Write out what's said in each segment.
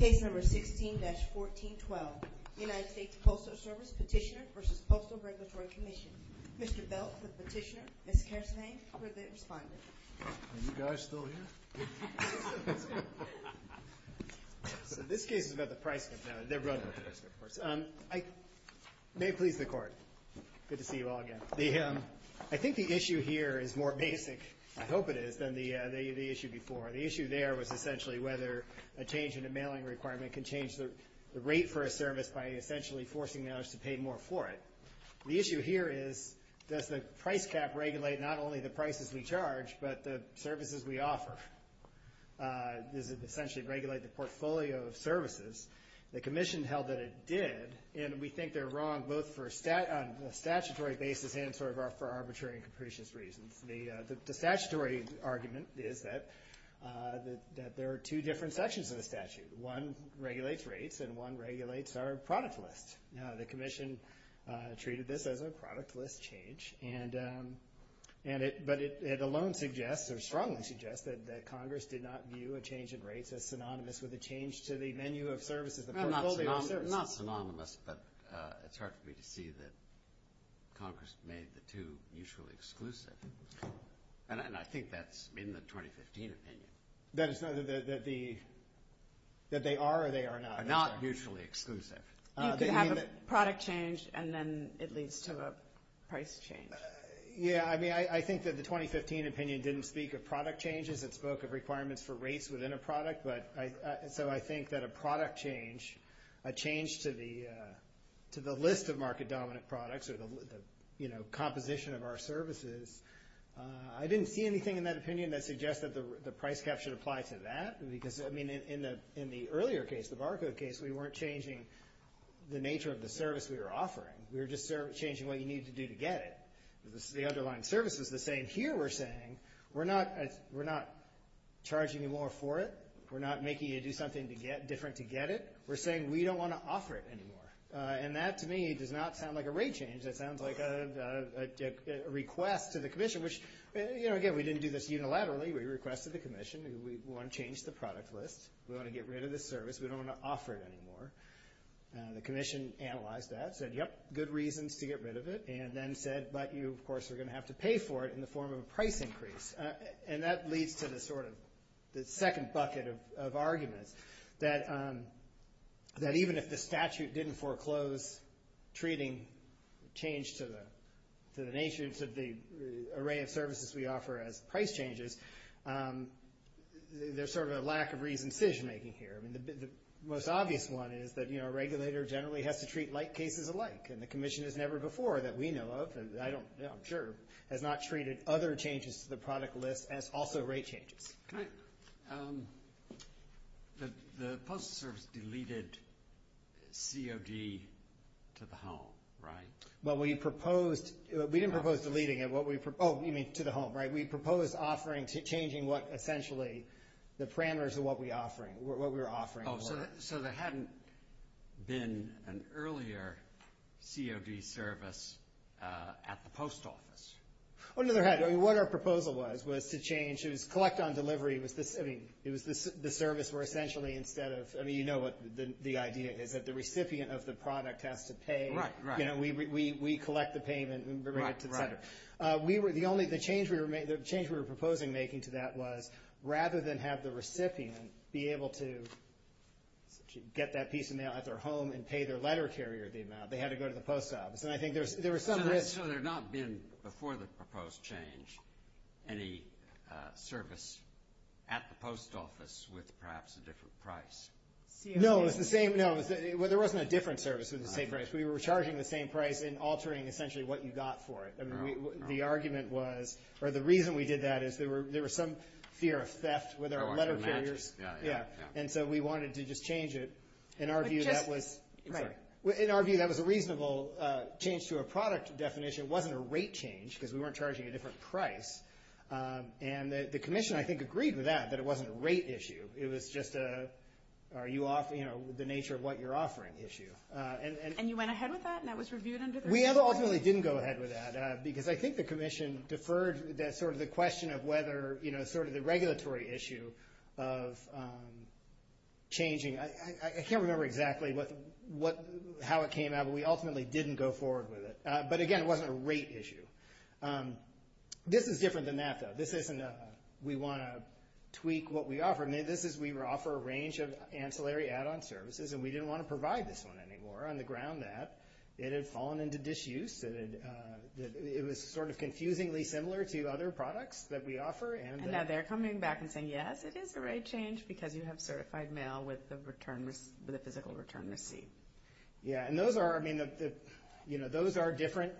16-1412 United States Postal Service Petitioner v. Postal Regulatory Commission Mr. Belk, the petitioner. Ms. Kershnay, for the respondent. Are you guys still here? This case is about the price cut. May it please the court. Good to see you all again. I think the issue here is more basic, I hope it is, than the issue before. The issue there was essentially whether a change in a mailing requirement can change the rate for a service by essentially forcing mailers to pay more for it. The issue here is, does the price cap regulate not only the prices we charge, but the services we offer? Does it essentially regulate the portfolio of services? The commission held that it did, and we think they're wrong both on a statutory basis and for arbitrary and capricious reasons. The statutory argument is that there are two different sections of the statute. One regulates rates and one regulates our product list. The commission treated this as a product list change, but it alone suggests, or strongly suggests, that Congress did not view a change in rates as synonymous with a change to the menu of services, the portfolio of services. Not synonymous, but it's hard for me to see that Congress made the two mutually exclusive. And I think that's in the 2015 opinion. That they are or they are not? Not mutually exclusive. You could have a product change and then it leads to a price change. Yeah, I mean, I think that the 2015 opinion didn't speak of product changes. It spoke of requirements for rates within a product. So I think that a product change, a change to the list of market-dominant products, or the composition of our services, I didn't see anything in that opinion that suggests that the price cap should apply to that. Because, I mean, in the earlier case, the barcode case, we weren't changing the nature of the service we were offering. We were just changing what you needed to do to get it. The underlying service was the same. Here we're saying we're not charging you more for it. We're not making you do something different to get it. We're saying we don't want to offer it anymore. And that, to me, does not sound like a rate change. That sounds like a request to the commission, which, you know, again, we didn't do this unilaterally. We requested the commission. We want to change the product list. We want to get rid of the service. We don't want to offer it anymore. The commission analyzed that, said, yep, good reasons to get rid of it, and then said, but you, of course, are going to have to pay for it in the form of a price increase. And that leads to the sort of the second bucket of arguments, that even if the statute didn't foreclose treating change to the nature, to the array of services we offer as price changes, there's sort of a lack of reasoned decision-making here. I mean, the most obvious one is that, you know, a regulator generally has to treat like cases alike, and the commission has never before, that we know of, I don't know, I'm sure, has not treated other changes to the product list as also rate changes. The postal service deleted COD to the home, right? We didn't propose deleting it. Oh, you mean to the home, right? We proposed offering to changing what essentially the parameters of what we were offering were. So there hadn't been an earlier COD service at the post office? Oh, no, there hadn't. I mean, what our proposal was, was to change. It was collect on delivery. It was the service where essentially instead of, I mean, you know what the idea is, that the recipient of the product has to pay. Right, right. You know, we collect the payment and bring it to the center. Right, right. The change we were proposing making to that was, rather than have the recipient be able to get that piece of mail at their home and pay their letter carrier the amount, they had to go to the post office. And I think there was some risk. So there had not been, before the proposed change, any service at the post office with perhaps a different price? No, it was the same. No, there wasn't a different service with the same price. We were charging the same price and altering essentially what you got for it. I mean, the argument was, or the reason we did that is there was some fear of theft with our letter carriers. Yeah, yeah, yeah. And so we wanted to just change it. In our view, that was a reasonable change to a product definition. It wasn't a rate change because we weren't charging a different price. And the commission, I think, agreed with that, that it wasn't a rate issue. It was just the nature of what you're offering issue. And you went ahead with that and that was reviewed under the review? We ultimately didn't go ahead with that because I think the commission deferred sort of the question of whether, sort of the regulatory issue of changing. I can't remember exactly how it came out, but we ultimately didn't go forward with it. But, again, it wasn't a rate issue. This is different than that, though. This isn't a we want to tweak what we offer. I mean, this is we offer a range of ancillary add-on services, and we didn't want to provide this one anymore on the ground that it had fallen into disuse. It was sort of confusingly similar to other products that we offer. And now they're coming back and saying, yes, it is a rate change because you have certified mail with a physical return receipt. Yeah, and those are different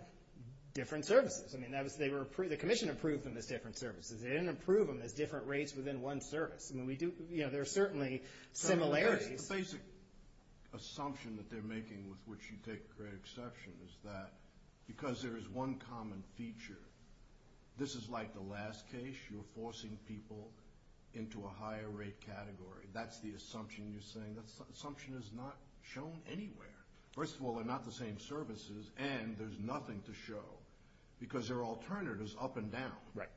services. I mean, the commission approved them as different services. They didn't approve them as different rates within one service. I mean, there are certainly similarities. The basic assumption that they're making with which you take great exception is that because there is one common feature, this is like the last case. You're forcing people into a higher rate category. That's the assumption you're saying. That assumption is not shown anywhere. First of all, they're not the same services, and there's nothing to show because they're alternatives up and down. Right.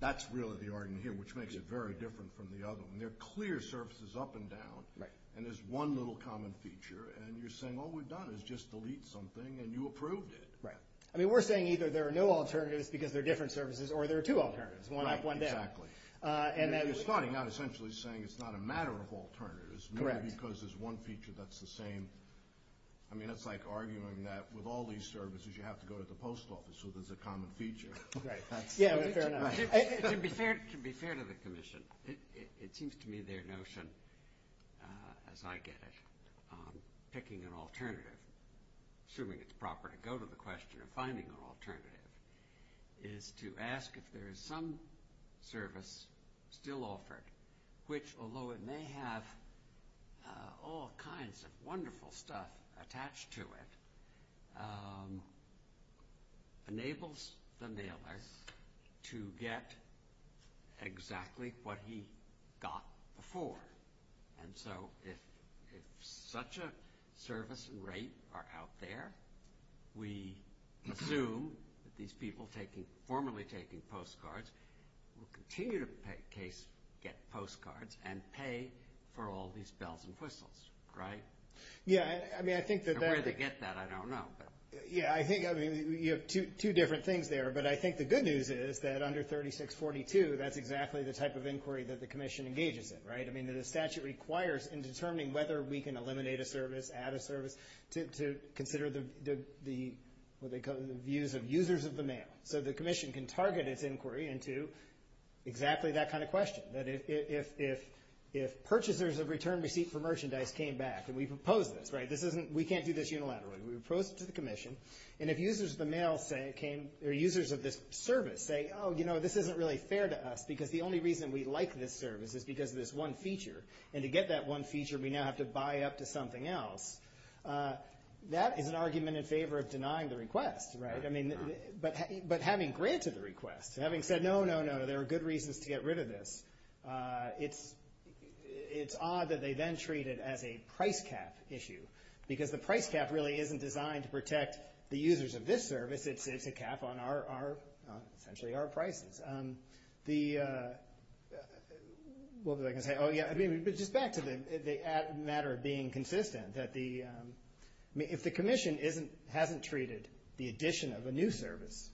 That's really the argument here, which makes it very different from the other one. They're clear services up and down, and there's one little common feature, and you're saying all we've done is just delete something, and you approved it. Right. I mean, we're saying either there are no alternatives because they're different services or there are two alternatives, one up, one down. Right. Exactly. And then we're starting out essentially saying it's not a matter of alternatives, maybe because there's one feature that's the same. I mean, it's like arguing that with all these services, you have to go to the post office, so there's a common feature. Right. Yeah, fair enough. To be fair to the commission, it seems to me their notion, as I get it, picking an alternative, assuming it's proper to go to the question of finding an alternative, is to ask if there is some service still offered, which, although it may have all kinds of wonderful stuff attached to it, enables the mailer to get exactly what he got before. And so if such a service and rate are out there, we assume that these people formally taking postcards will continue to get postcards and pay for all these bells and whistles. Right? Yeah. I mean, I think that that... And where they get that, I don't know. Yeah, I think you have two different things there, but I think the good news is that under 3642, that's exactly the type of inquiry that the commission engages in. Right? I mean, the statute requires in determining whether we can eliminate a service, add a service, to consider the views of users of the mail. So the commission can target its inquiry into exactly that kind of question, that if purchasers of return receipt for merchandise came back, and we propose this, right? We can't do this unilaterally. We propose it to the commission, and if users of the mail say it came, or users of this service say, oh, you know, this isn't really fair to us, because the only reason we like this service is because of this one feature. And to get that one feature, we now have to buy up to something else. That is an argument in favor of denying the request, right? I mean, but having granted the request, having said, no, no, no, there are good reasons to get rid of this, it's odd that they then treat it as a price cap issue, because the price cap really isn't designed to protect the users of this service. It's a cap on our, essentially, our prices. The, what was I going to say? Oh, yeah, I mean, just back to the matter of being consistent, that the, if the commission hasn't treated the addition of a new service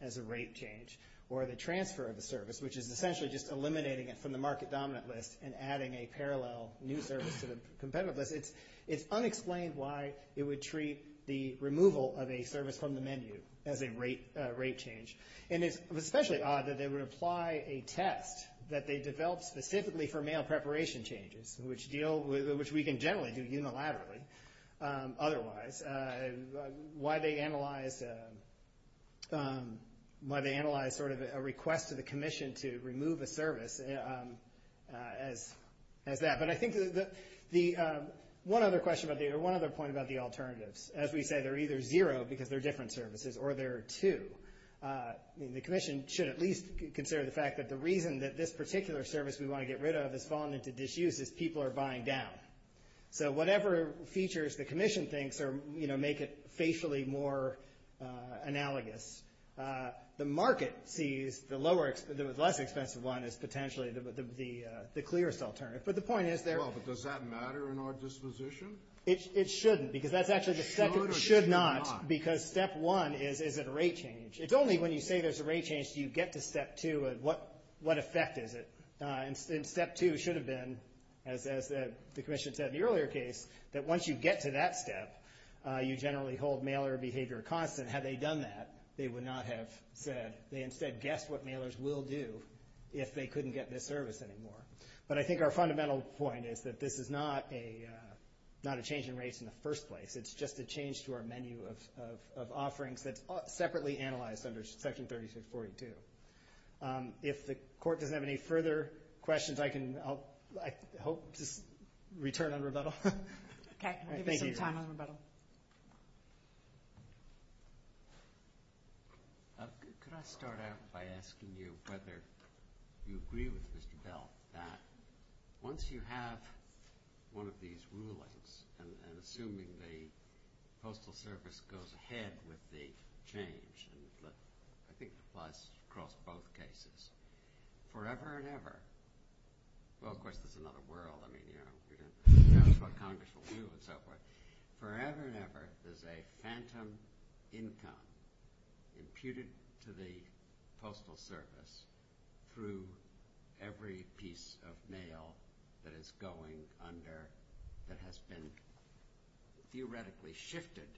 as a rate change, or the transfer of a service, which is essentially just eliminating it from the market dominant list and adding a parallel new service to the competitive list, it's unexplained why it would treat the removal of a service from the menu as a rate change. And it's especially odd that they would apply a test that they developed specifically for mail preparation changes, which deal, which we can generally do unilaterally, otherwise, why they analyze sort of a request to the commission to remove a service as that. But I think the, one other question about the, or one other point about the alternatives. As we say, they're either zero because they're different services, or they're two. I mean, the commission should at least consider the fact that the reason that this particular service we want to get rid of has fallen into disuse is people are buying down. So whatever features the commission thinks are, you know, make it facially more analogous, the market sees the lower, the less expensive one as potentially the clearest alternative. But the point is there. Well, but does that matter in our disposition? It shouldn't, because that's actually the second. Should or should not? Should or should not? Because step one is, is it a rate change? It's only when you say there's a rate change do you get to step two of what effect is it. And step two should have been, as the commission said in the earlier case, that once you get to that step, you generally hold mailer behavior constant. Had they done that, they would not have said, they instead guessed what mailers will do if they couldn't get this service anymore. But I think our fundamental point is that this is not a change in rates in the first place. It's just a change to our menu of offerings that's separately analyzed under Section 3642. If the Court doesn't have any further questions, I can, I hope, just return on rebuttal. Okay. I'll give you some time on rebuttal. Could I start out by asking you whether you agree with Mr. Bell that once you have one of these rulings and assuming the Postal Service goes ahead with the change, and I think it applies across both cases, forever and ever, well, of course, there's another world. I mean, you know, that's what Congress will do and so forth. Forever and ever, there's a phantom income imputed to the Postal Service through every piece of mail that is going under, that has been theoretically shifted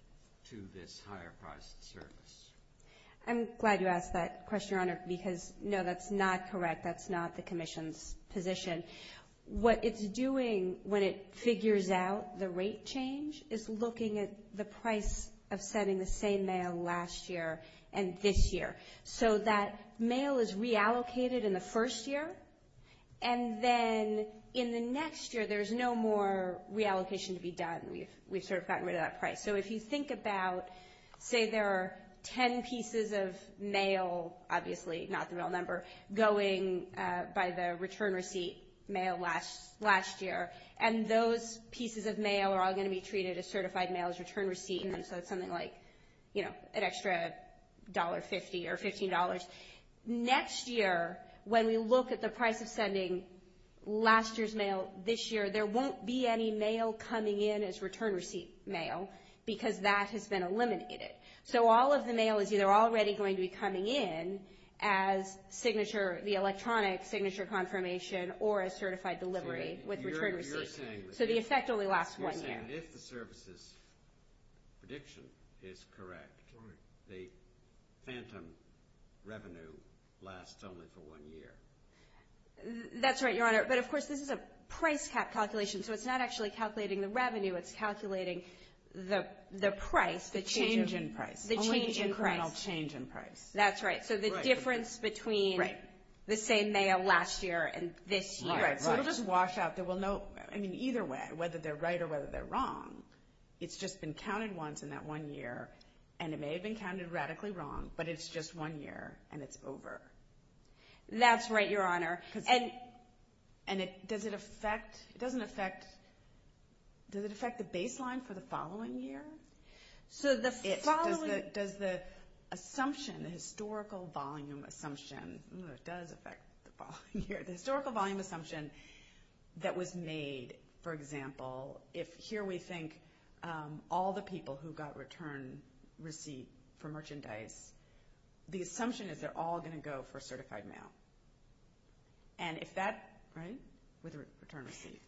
to this higher-priced service. I'm glad you asked that question, Your Honor, because, no, that's not correct. That's not the Commission's position. What it's doing when it figures out the rate change is looking at the price of sending the same mail last year and this year. So that mail is reallocated in the first year, and then in the next year there's no more reallocation to be done. We've sort of gotten rid of that price. So if you think about, say, there are ten pieces of mail, obviously not the real number, going by the return receipt mail last year, and those pieces of mail are all going to be treated as certified mail, as return receipt, and so it's something like, you know, an extra $1.50 or $15. Next year, when we look at the price of sending last year's mail this year, there won't be any mail coming in as return receipt mail because that has been eliminated. So all of the mail is either already going to be coming in as signature, the electronic signature confirmation, or a certified delivery with return receipt. So the effect only lasts one year. You're saying if the service's prediction is correct, the phantom revenue lasts only for one year. That's right, Your Honor. But, of course, this is a price calculation, so it's not actually calculating the revenue. It's calculating the price. The change in price. The change in price. Only the incremental change in price. That's right. So the difference between the same mail last year and this year. Right, right. So it'll just wash out. I mean, either way, whether they're right or whether they're wrong, it's just been counted once in that one year, and it may have been counted radically wrong, but it's just one year, and it's over. That's right, Your Honor. And does it affect the baseline for the following year? Does the assumption, the historical volume assumption that was made, for example, if here we think all the people who got return receipt for merchandise, the assumption is they're all going to go for certified mail. And if that, right, with a return receipt.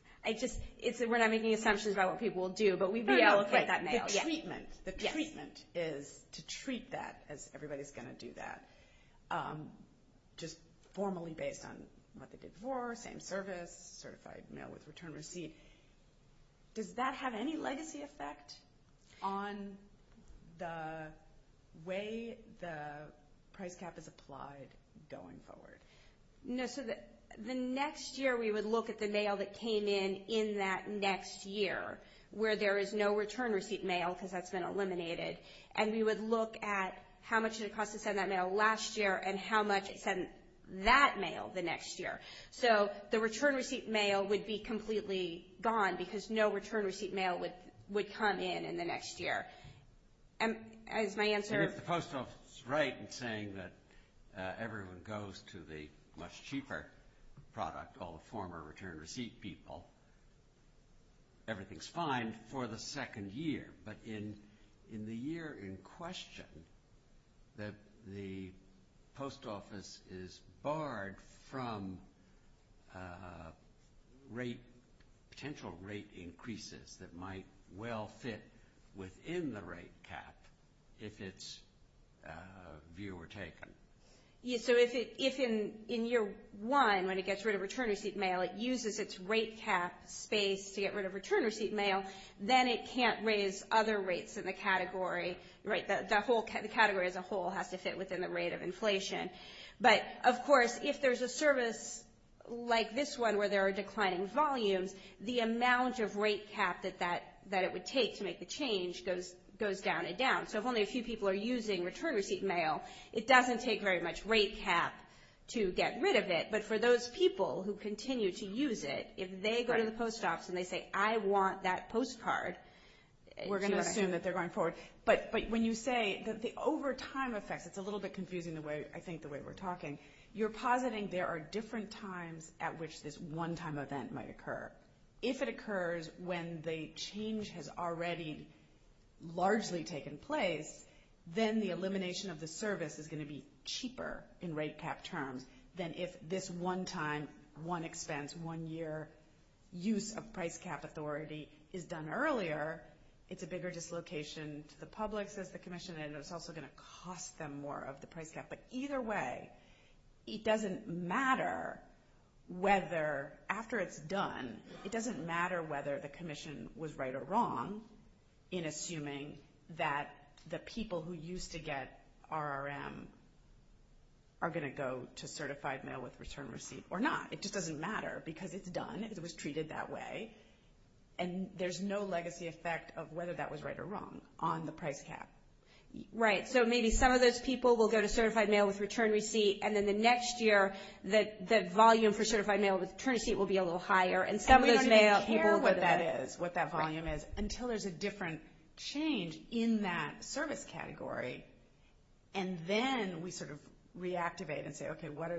We're not making assumptions about what people will do, but we reallocate that mail. The treatment is to treat that as everybody's going to do that, just formally based on what they did before, same service, certified mail with return receipt. Does that have any legacy effect on the way the price cap is applied going forward? No. So the next year we would look at the mail that came in in that next year, where there is no return receipt mail because that's been eliminated, and we would look at how much it would cost to send that mail last year and how much it sent that mail the next year. So the return receipt mail would be completely gone because no return receipt mail would come in in the next year. Is my answer — And if the Post Office is right in saying that everyone goes to the much cheaper product, all the former return receipt people, everything's fine for the second year. But in the year in question, the Post Office is barred from potential rate increases that might well fit within the rate cap if its view were taken. So if in year one, when it gets rid of return receipt mail, it uses its rate cap space to get rid of return receipt mail, then it can't raise other rates in the category. The category as a whole has to fit within the rate of inflation. But, of course, if there's a service like this one where there are declining volumes, the amount of rate cap that it would take to make the change goes down and down. So if only a few people are using return receipt mail, it doesn't take very much rate cap to get rid of it. But for those people who continue to use it, if they go to the Post Office and they say, I want that postcard— We're going to assume that they're going forward. But when you say that the overtime effects—it's a little bit confusing, I think, the way we're talking— you're positing there are different times at which this one-time event might occur. If it occurs when the change has already largely taken place, then the elimination of the service is going to be cheaper in rate cap terms than if this one-time, one-expense, one-year use of price cap authority is done earlier. It's a bigger dislocation to the public, says the Commission, and it's also going to cost them more of the price cap. But either way, it doesn't matter whether, after it's done, it doesn't matter whether the Commission was right or wrong in assuming that the people who used to get RRM are going to go to certified mail-with-return receipt or not. It just doesn't matter because it's done. It was treated that way. And there's no legacy effect of whether that was right or wrong on the price cap. Right, so maybe some of those people will go to certified mail-with-return receipt, and then the next year, the volume for certified mail-with-return receipt will be a little higher. And we don't even care what that volume is until there's a different change in that service category. And then we sort of reactivate and say, okay, what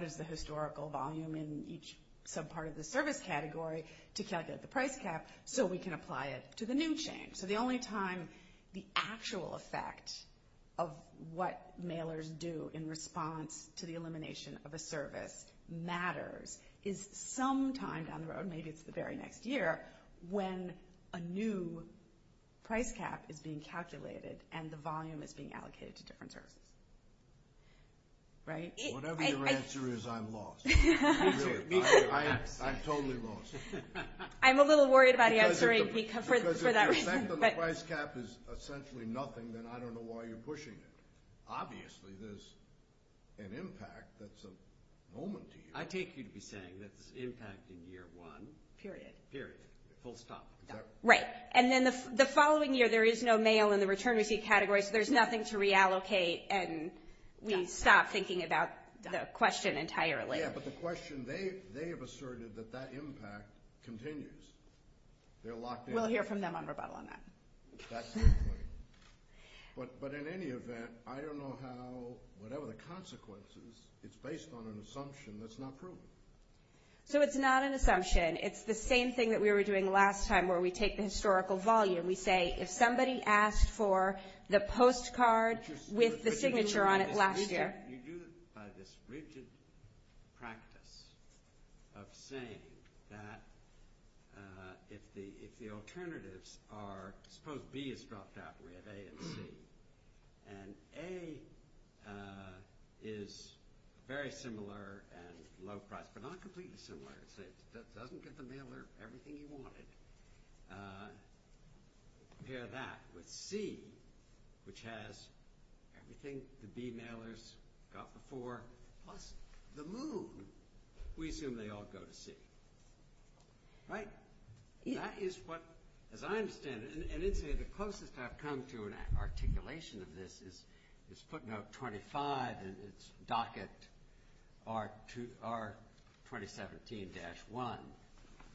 is the historical volume in each subpart of the service category to calculate the price cap so we can apply it to the new change? So the only time the actual effect of what mailers do in response to the elimination of a service matters is sometime down the road, maybe it's the very next year, when a new price cap is being calculated and the volume is being allocated to different services. Right? Whatever your answer is, I'm lost. I'm totally lost. I'm a little worried about answering for that reason. Because if the effect on the price cap is essentially nothing, then I don't know why you're pushing it. Obviously, there's an impact that's a moment to you. I take you to be saying that there's impact in year one. Period. Period. Full stop. Right. And then the following year, there is no mail in the return receipt category, so there's nothing to reallocate, and we stop thinking about the question entirely. Yeah, but the question, they have asserted that that impact continues. They're locked in. We'll hear from them on rebuttal on that. But in any event, I don't know how, whatever the consequences, it's based on an assumption that's not proven. So it's not an assumption. It's the same thing that we were doing last time where we take the historical volume. We say if somebody asked for the postcard with the signature on it last year. You do it by this rigid practice of saying that if the alternatives are, suppose B is dropped out, we have A and C. And A is very similar and low price, but not completely similar. It doesn't get the mailer everything he wanted. Compare that with C, which has everything the B mailers got before, plus the moon. We assume they all go to C. Right? That is what, as I understand it, and it's the closest I've come to an articulation of this, is footnote 25 and its docket R2017-1.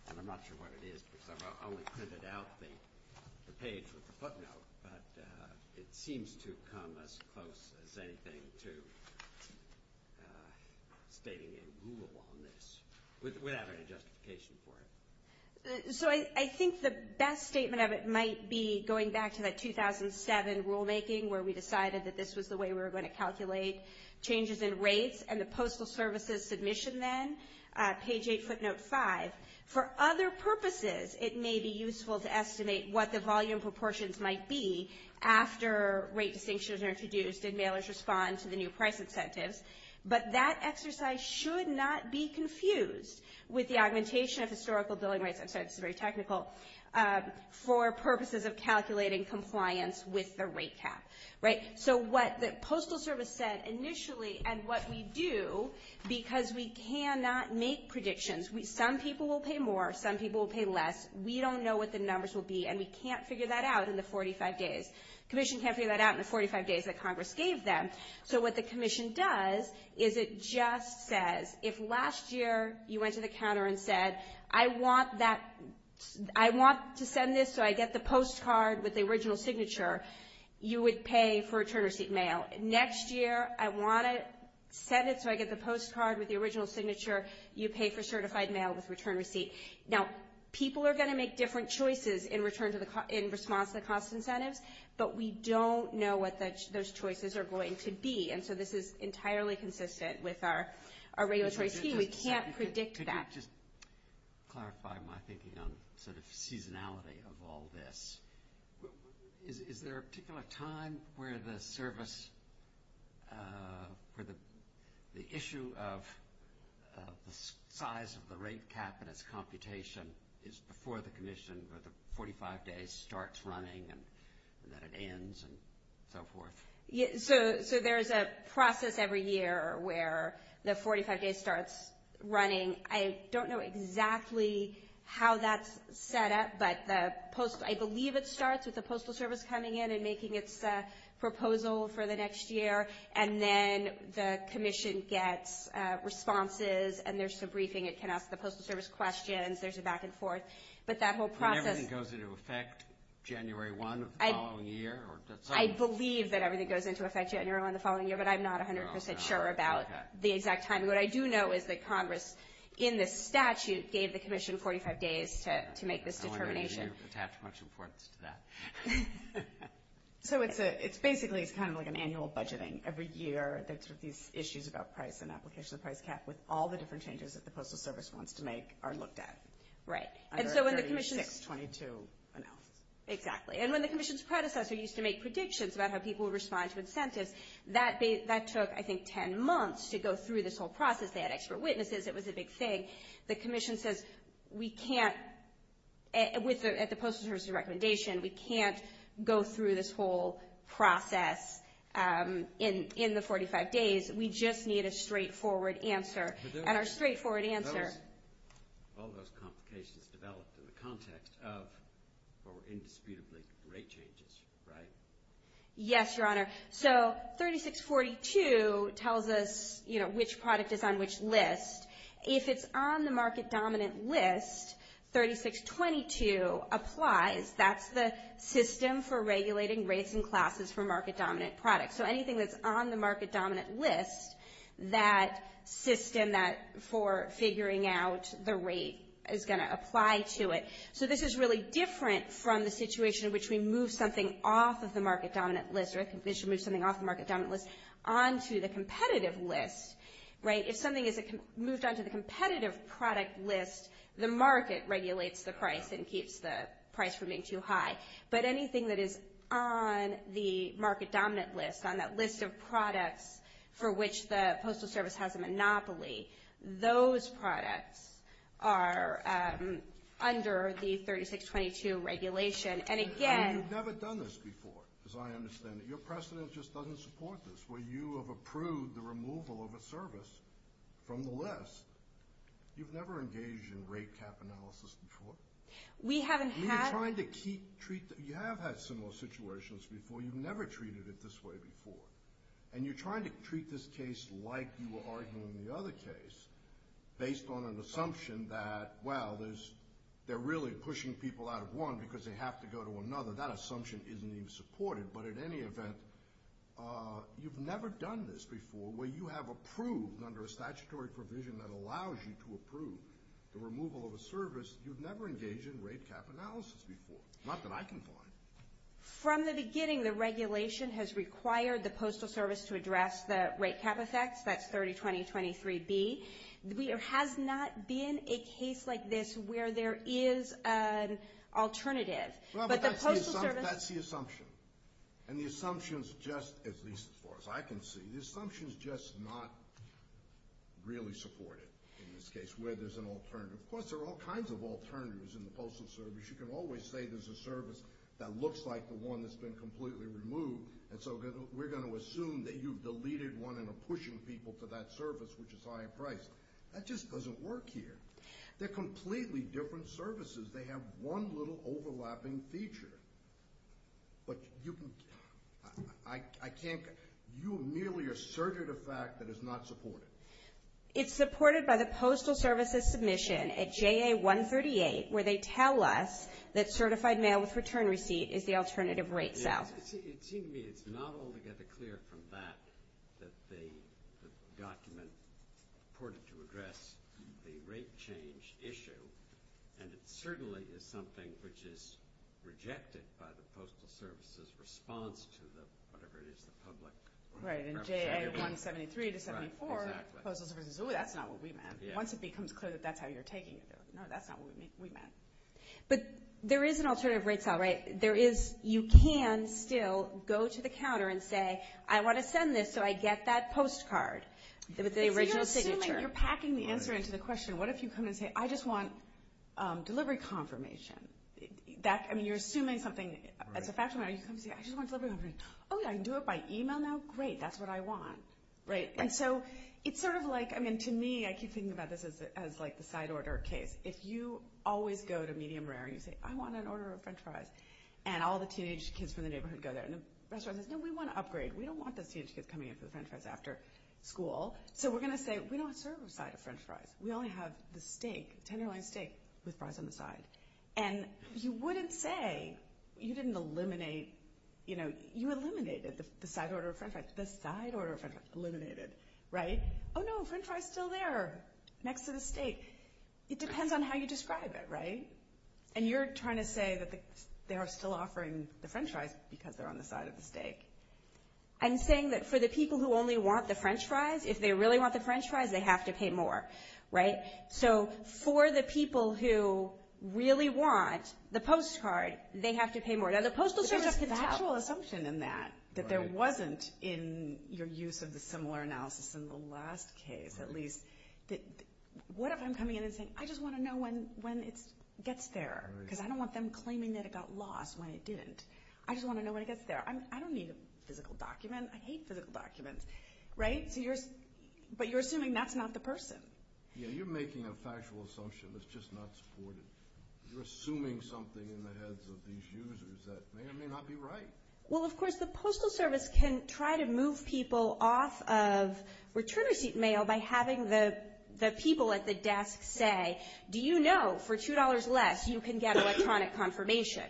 And I'm not sure what it is because I've only printed out the page with the footnote, but it seems to come as close as anything to stating a rule on this without any justification for it. So I think the best statement of it might be going back to that 2007 rulemaking where we decided that this was the way we were going to calculate changes in rates and the Postal Service's submission then, page 8, footnote 5. For other purposes, it may be useful to estimate what the volume proportions might be after rate distinctions are introduced and mailers respond to the new price incentives, but that exercise should not be confused with the augmentation of historical billing rates. I'm sorry, this is very technical. For purposes of calculating compliance with the rate cap. So what the Postal Service said initially and what we do because we cannot make predictions. Some people will pay more, some people will pay less. We don't know what the numbers will be, and we can't figure that out in the 45 days. Commission can't figure that out in the 45 days that Congress gave them. So what the commission does is it just says, if last year you went to the counter and said, I want to send this so I get the postcard with the original signature, you would pay for return receipt mail. Next year, I want to send it so I get the postcard with the original signature, you pay for certified mail with return receipt. Now, people are going to make different choices in response to the cost incentives, but we don't know what those choices are going to be. And so this is entirely consistent with our regulatory scheme. We can't predict that. Could you just clarify my thinking on sort of seasonality of all this? Is there a particular time where the service, where the issue of the size of the rate cap and its computation is before the commission, or the 45 days starts running and then it ends and so forth? So there is a process every year where the 45 days starts running. I don't know exactly how that's set up, but I believe it starts with the Postal Service coming in and making its proposal for the next year, and then the commission gets responses and there's a briefing. It can ask the Postal Service questions. There's a back and forth. But that whole process— And everything goes into effect January 1 of the following year? I believe that everything goes into effect January 1 of the following year, but I'm not 100 percent sure about the exact time. What I do know is that Congress, in the statute, gave the commission 45 days to make this determination. I wonder if you attach much importance to that. So basically it's kind of like an annual budgeting. Every year there's sort of these issues about price and application of price cap with all the different changes that the Postal Service wants to make are looked at. Right. And so when the commission— On January 36, 22 announced. Exactly. And when the commission's predecessor used to make predictions about how people would respond to incentives, that took, I think, 10 months to go through this whole process. They had expert witnesses. It was a big thing. The commission says we can't, at the Postal Service's recommendation, we can't go through this whole process in the 45 days. We just need a straightforward answer, and our straightforward answer— All those complications developed in the context of indisputably rate changes, right? Yes, Your Honor. So 3642 tells us which product is on which list. If it's on the market-dominant list, 3622 applies. That's the system for regulating rates and classes for market-dominant products. So anything that's on the market-dominant list, that system for figuring out the rate is going to apply to it. So this is really different from the situation in which we move something off of the market-dominant list or the commission moves something off the market-dominant list onto the competitive list, right? If something is moved onto the competitive product list, the market regulates the price and keeps the price from being too high. But anything that is on the market-dominant list, on that list of products for which the Postal Service has a monopoly, those products are under the 3622 regulation. And again— You've never done this before, as I understand it. Your precedent just doesn't support this, where you have approved the removal of a service from the list. You've never engaged in rate cap analysis before? We haven't had— You're trying to keep—you have had similar situations before. You've never treated it this way before. And you're trying to treat this case like you were arguing the other case, based on an assumption that, well, they're really pushing people out of one because they have to go to another. That assumption isn't even supported. But in any event, you've never done this before, where you have approved under a statutory provision that allows you to approve the removal of a service. You've never engaged in rate cap analysis before. Not that I can find. From the beginning, the regulation has required the Postal Service to address the rate cap effects. That's 302023B. There has not been a case like this where there is an alternative. But the Postal Service— Well, but that's the assumption. And the assumption is just, at least as far as I can see, the assumption is just not really supported in this case, where there's an alternative. Of course, there are all kinds of alternatives in the Postal Service. You can always say there's a service that looks like the one that's been completely removed, and so we're going to assume that you've deleted one and are pushing people to that service, which is higher priced. That just doesn't work here. They're completely different services. They have one little overlapping feature. But you—I can't—you merely asserted a fact that is not supported. It's supported by the Postal Service's submission at JA138, where they tell us that certified mail-with-return receipt is the alternative rate cell. It seemed to me it's not altogether clear from that that the document reported to address the rate change issue, and it certainly is something which is rejected by the Postal Service's response to the—whatever it is, the public— Right, and JA173 to 74, Postal Service says, oh, that's not what we meant. Once it becomes clear that that's how you're taking it, no, that's not what we meant. But there is an alternative rate cell, right? There is—you can still go to the counter and say, I want to send this so I get that postcard with the original signature. So you're assuming—you're packing the answer into the question. What if you come in and say, I just want delivery confirmation? That—I mean, you're assuming something. It's a factual matter. You come and say, I just want delivery confirmation. Oh, yeah, I can do it by email now? Great. That's what I want, right? And so it's sort of like—I mean, to me, I keep thinking about this as like the side order case. If you always go to Medium Rare and you say, I want an order of French fries, and all the teenage kids from the neighborhood go there, and the restaurant says, no, we want to upgrade. We don't want those teenage kids coming in for the French fries after school. So we're going to say, we don't serve a side of French fries. We only have the steak, tenderloin steak, with fries on the side. And you wouldn't say—you didn't eliminate—you know, you eliminated the side order of French fries. The side order of French fries eliminated, right? Oh, no, French fries are still there next to the steak. It depends on how you describe it, right? And you're trying to say that they are still offering the French fries because they're on the side of the steak. I'm saying that for the people who only want the French fries, if they really want the French fries, they have to pay more, right? So for the people who really want the postcard, they have to pay more. Now, the Postal Service can help. But there's a contextual assumption in that, that there wasn't in your use of the similar analysis in the last case, at least, that what if I'm coming in and saying, I just want to know when it gets there, because I don't want them claiming that it got lost when it didn't. I just want to know when it gets there. I don't need a physical document. I hate physical documents, right? But you're assuming that's not the person. Yeah, you're making a factual assumption that's just not supported. You're assuming something in the heads of these users that may or may not be right. Well, of course, the Postal Service can try to move people off of return receipt mail by having the people at the desk say, do you know for $2 less you can get electronic confirmation?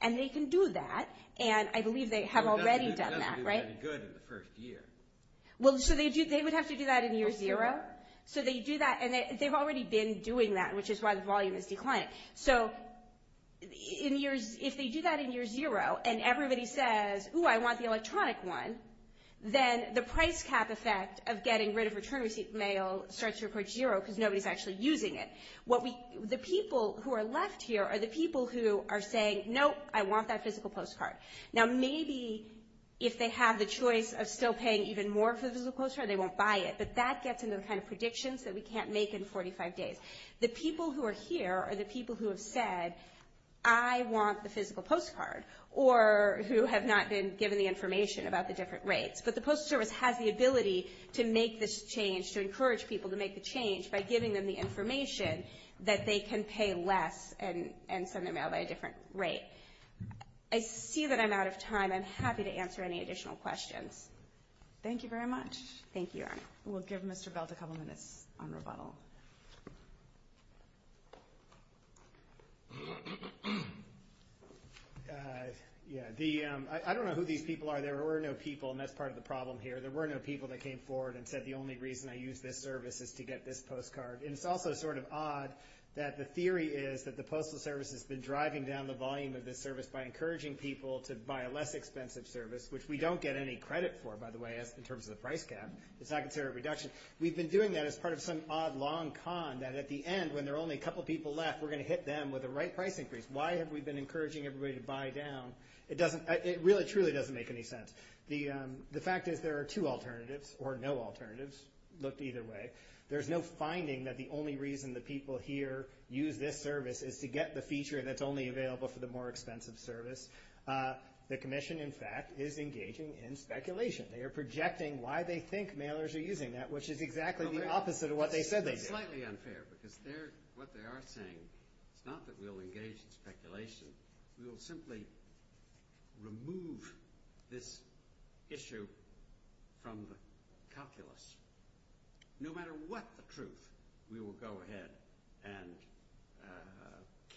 And they can do that, and I believe they have already done that, right? It doesn't do any good in the first year. Well, so they would have to do that in year zero? So they do that, and they've already been doing that, which is why the volume is declining. So if they do that in year zero and everybody says, ooh, I want the electronic one, then the price cap effect of getting rid of return receipt mail starts to report zero because nobody's actually using it. The people who are left here are the people who are saying, nope, I want that physical postcard. Now, maybe if they have the choice of still paying even more for the physical postcard, they won't buy it. But that gets into the kind of predictions that we can't make in 45 days. The people who are here are the people who have said, I want the physical postcard, or who have not been given the information about the different rates. But the Postal Service has the ability to make this change, to encourage people to make the change, by giving them the information that they can pay less and send their mail by a different rate. I see that I'm out of time. I'm happy to answer any additional questions. Thank you very much. Thank you. We'll give Mr. Belt a couple minutes on rebuttal. I don't know who these people are. There were no people, and that's part of the problem here. There were no people that came forward and said the only reason I use this service is to get this postcard. And it's also sort of odd that the theory is that the Postal Service has been driving down the volume of this service by encouraging people to buy a less expensive service, which we don't get any credit for, by the way, in terms of the price cap. It's not considered a reduction. We've been doing that as part of some odd long con that at the end, when there are only a couple people left, we're going to hit them with the right price increase. Why have we been encouraging everybody to buy down? It really truly doesn't make any sense. The fact is there are two alternatives, or no alternatives. Look either way. There's no finding that the only reason the people here use this service is to get the feature that's only available for the more expensive service. The Commission, in fact, is engaging in speculation. They are projecting why they think mailers are using that, which is exactly the opposite of what they said they did. That's slightly unfair because what they are saying is not that we'll engage in speculation. We will simply remove this issue from the calculus. No matter what the truth, we will go ahead and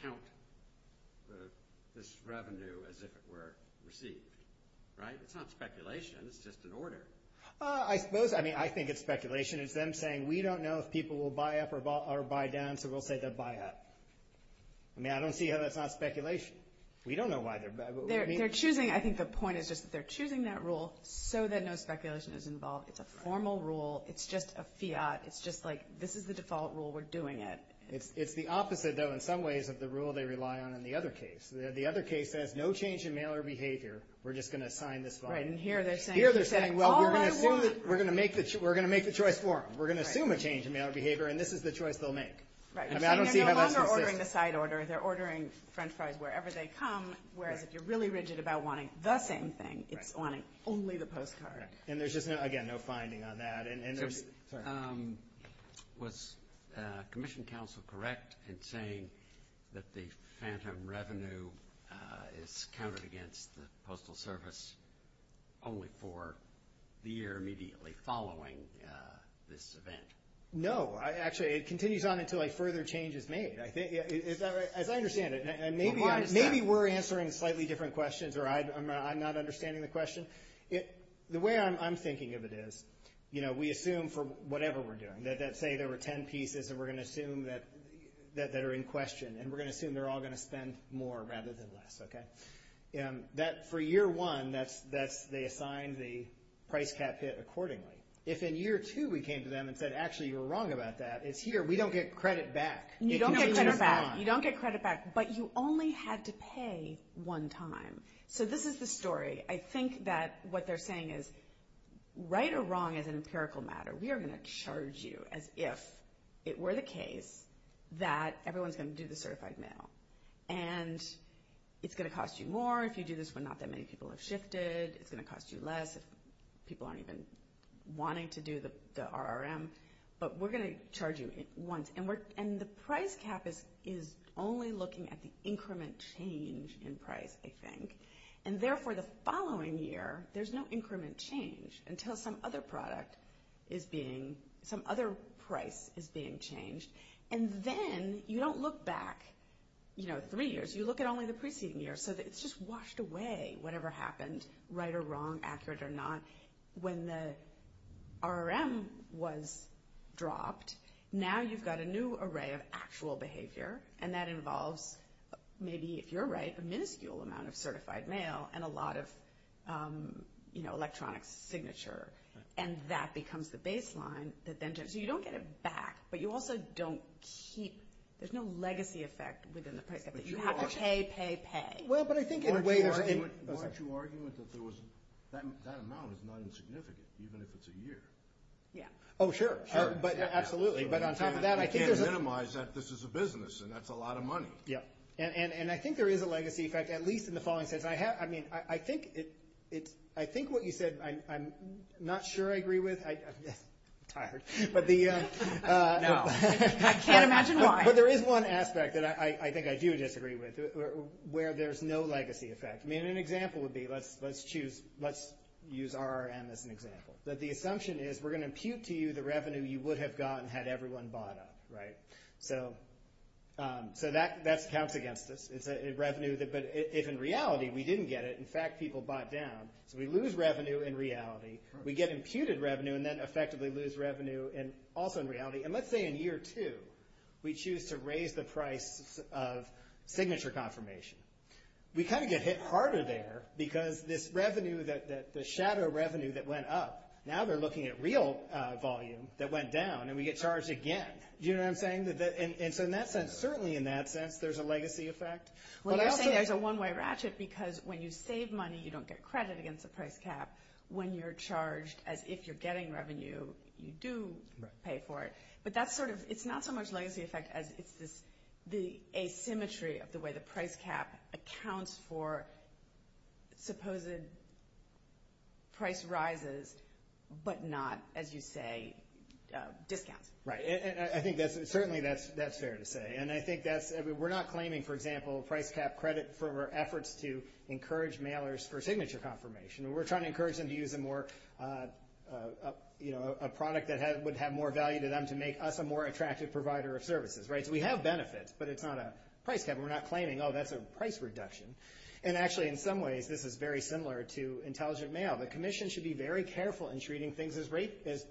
count this revenue as if it were received. Right? That's not speculation. It's just an order. I suppose. I mean, I think it's speculation. It's them saying we don't know if people will buy up or buy down, so we'll say they'll buy up. I mean, I don't see how that's not speculation. We don't know why they're buying. They're choosing. I think the point is just that they're choosing that rule so that no speculation is involved. It's a formal rule. It's just a fiat. It's just like this is the default rule. We're doing it. It's the opposite, though, in some ways, of the rule they rely on in the other case. The other case says no change in mailer behavior. We're just going to sign this bond. Right, and here they're saying all I want. Here they're saying, well, we're going to make the choice for them. We're going to assume a change in mailer behavior, and this is the choice they'll make. Right. I mean, I don't see how that's consistent. They're no longer ordering the side order. They're ordering French fries wherever they come, whereas if you're really rigid about wanting the same thing, it's wanting only the postcard. And there's just, again, no finding on that. Was Commission Counsel correct in saying that the phantom revenue is counted against the Postal Service only for the year immediately following this event? No. Actually, it continues on until a further change is made, as I understand it. Maybe we're answering slightly different questions, or I'm not understanding the question. The way I'm thinking of it is we assume for whatever we're doing, that say there were ten pieces that are in question, and we're going to assume they're all going to spend more rather than less. For year one, they assigned the price cap hit accordingly. If in year two we came to them and said, actually, you were wrong about that, it's here. We don't get credit back. It continues on. You don't get credit back, but you only had to pay one time. So this is the story. I think that what they're saying is right or wrong is an empirical matter. We are going to charge you as if it were the case that everyone's going to do the certified mail. And it's going to cost you more if you do this when not that many people have shifted. It's going to cost you less if people aren't even wanting to do the RRM. But we're going to charge you once. And the price cap is only looking at the increment change in price, I think. And therefore, the following year, there's no increment change until some other product is being, some other price is being changed. And then you don't look back, you know, three years. You look at only the preceding year. So it's just washed away whatever happened, right or wrong, accurate or not. When the RRM was dropped, now you've got a new array of actual behavior, and that involves maybe, if you're right, a minuscule amount of certified mail and a lot of, you know, electronic signature. And that becomes the baseline. So you don't get it back, but you also don't keep, there's no legacy effect within the price cap. You have to pay, pay, pay. Well, but I think in a way there's. Weren't you arguing that there was, that amount is not insignificant even if it's a year? Yeah. Oh, sure. Sure. Absolutely. But on top of that, I think there's. You can't minimize that this is a business, and that's a lot of money. Yeah. And I think there is a legacy effect, at least in the following sense. I mean, I think it's, I think what you said, I'm not sure I agree with. I'm tired. But the. No. I can't imagine why. But there is one aspect that I think I do disagree with, where there's no legacy effect. we're going to impute to you the revenue you would have gotten had everyone bought up, right? So that counts against us. It's a revenue, but if in reality we didn't get it, in fact people bought down. So we lose revenue in reality. We get imputed revenue and then effectively lose revenue also in reality. And let's say in year two we choose to raise the price of signature confirmation. We kind of get hit harder there because this revenue, the shadow revenue that went up, now they're looking at real volume that went down, and we get charged again. Do you know what I'm saying? And so in that sense, certainly in that sense, there's a legacy effect. Well, you're saying there's a one-way ratchet because when you save money, you don't get credit against a price cap. When you're charged as if you're getting revenue, you do pay for it. But that's sort of, it's not so much legacy effect as it's this, the asymmetry of the way the price cap accounts for supposed price rises but not, as you say, discounts. Right. I think that's, certainly that's fair to say. And I think that's, we're not claiming, for example, price cap credit for efforts to encourage mailers for signature confirmation. We're trying to encourage them to use a more, you know, a product that would have more value to them to make us a more attractive provider of services. Right. So we have benefits, but it's not a price cap. We're not claiming, oh, that's a price reduction. And actually in some ways this is very similar to intelligent mail. The commission should be very careful in treating things as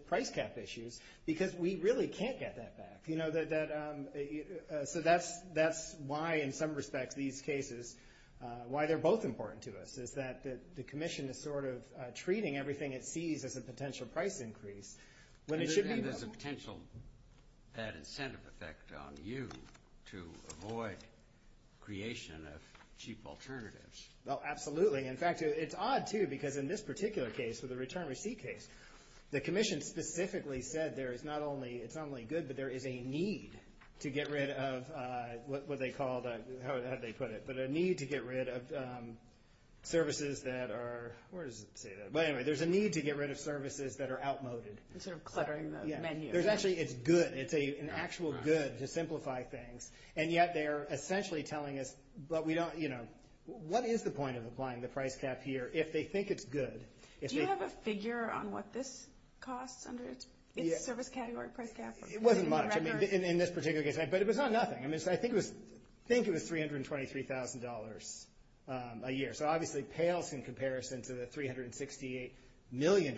price cap issues because we really can't get that back. You know, so that's why in some respects these cases, why they're both important to us, is that the commission is sort of treating everything it sees as a potential price increase when it should be. And there's a potential bad incentive effect on you to avoid creation of cheap alternatives. Oh, absolutely. In fact, it's odd, too, because in this particular case, with the return receipt case, the commission specifically said there is not only, it's not only good, but there is a need to get rid of what they called, how did they put it? But a need to get rid of services that are, where does it say that? But anyway, there's a need to get rid of services that are outmoded. Sort of cluttering the menu. There's actually, it's good. It's an actual good to simplify things. And yet they're essentially telling us, but we don't, you know, what is the point of applying the price cap here if they think it's good? Do you have a figure on what this costs under its service category price cap? It wasn't much, I mean, in this particular case. But it was not nothing. I think it was $323,000 a year. So, obviously, pales in comparison to the $368 million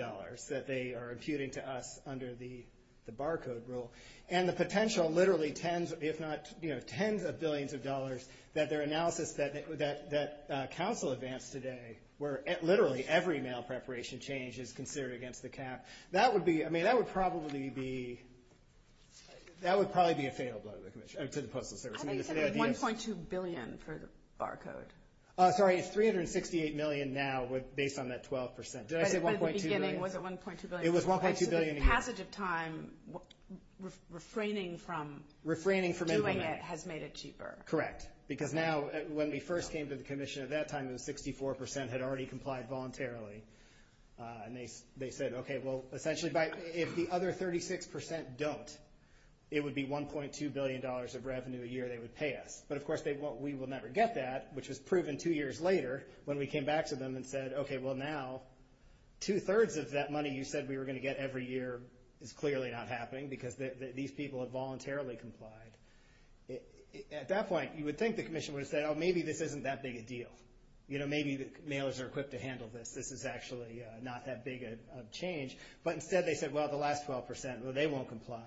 that they are imputing to us under the barcode rule. And the potential literally tens, if not tens of billions of dollars, that their analysis that council advanced today, where literally every mail preparation change is considered against the cap, that would be, I mean, that would probably be, that would probably be a fail to the Postal Service. I think it said $1.2 billion for the barcode. Sorry, it's $368 million now based on that 12%. Did I say $1.2 billion? But at the beginning, was it $1.2 billion? It was $1.2 billion a year. So the passage of time, refraining from doing it has made it cheaper. Correct. Because now, when we first came to the commission at that time, had already complied voluntarily. And they said, okay, well, essentially, if the other 36% don't, it would be $1.2 billion of revenue a year they would pay us. But, of course, we will never get that, which was proven two years later, when we came back to them and said, okay, well, now, two-thirds of that money you said we were going to get every year is clearly not happening because these people have voluntarily complied. At that point, you would think the commission would have said, oh, maybe this isn't that big a deal. You know, maybe the mailers are equipped to handle this. This is actually not that big of a change. But instead, they said, well, the last 12%, they won't comply.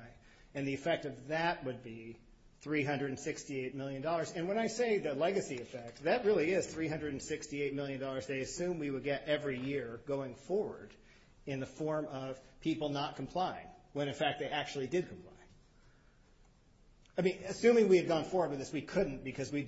And the effect of that would be $368 million. And when I say the legacy effect, that really is $368 million they assumed we would get every year going forward in the form of people not complying, when, in fact, they actually did comply. I mean, assuming we had gone forward with this, we couldn't because we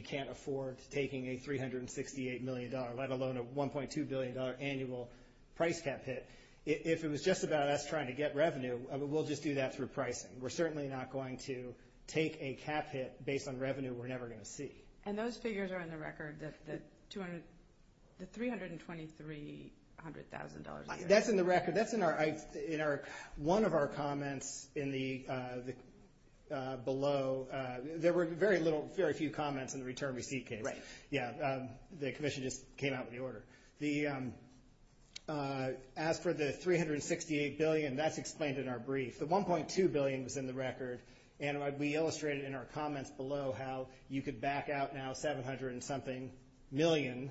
can't afford taking a $368 million, let alone a $1.2 billion annual price cap hit. If it was just about us trying to get revenue, we'll just do that through pricing. We're certainly not going to take a cap hit based on revenue we're never going to see. And those figures are in the record, the $323,000 a year? That's in the record. One of our comments below, there were very few comments in the return receipt case. Right. Yeah. The commission just came out with the order. As for the $368 billion, that's explained in our brief. The $1.2 billion was in the record, and we illustrated in our comments below how you could back out now $700-something million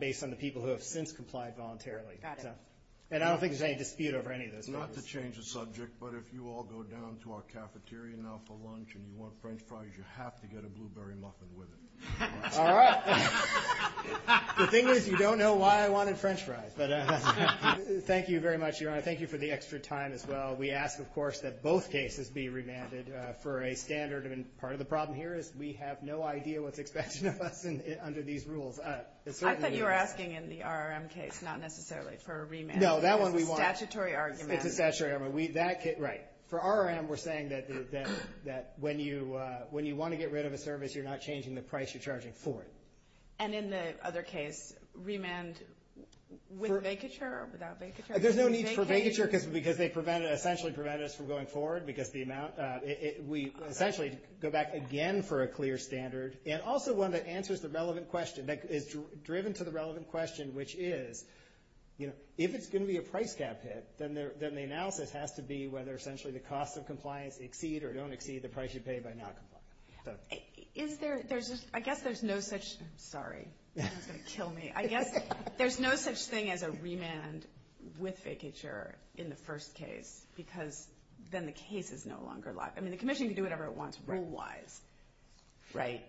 based on the people who have since complied voluntarily. Got it. And I don't think there's any dispute over any of those numbers. Not to change the subject, but if you all go down to our cafeteria now for lunch and you want French fries, you have to get a blueberry muffin with it. All right. The thing is, you don't know why I wanted French fries. Thank you very much, Your Honor. Thank you for the extra time as well. We ask, of course, that both cases be remanded for a standard. Part of the problem here is we have no idea what's expected of us under these rules. I thought you were asking in the RRM case, not necessarily for a remand. No, that one we want. It's a statutory argument. It's a statutory argument. Right. For RRM, we're saying that when you want to get rid of a service, you're not changing the price you're charging for it. And in the other case, remand with vacature or without vacature? There's no need for vacature because they essentially prevent us from going forward because we essentially go back again for a clear standard. And also one that answers the relevant question, that is driven to the relevant question, which is if it's going to be a price gap hit, then the analysis has to be whether essentially the costs of compliance exceed or don't exceed the price you pay by not complying. I guess there's no such thing as a remand with vacature in the first case because then the case is no longer locked. I mean, the commission can do whatever it wants rule-wise. Right.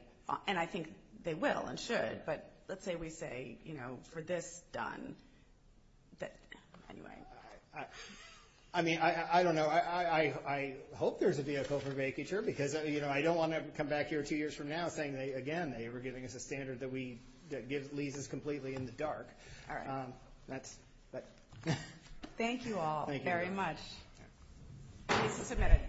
And I think they will and should. But let's say we say, you know, for this done. Anyway. I mean, I don't know. I hope there's a vehicle for vacature because, you know, I don't want to come back here two years from now saying, again, they were giving us a standard that leaves us completely in the dark. All right. Thank you all very much. Case is submitted.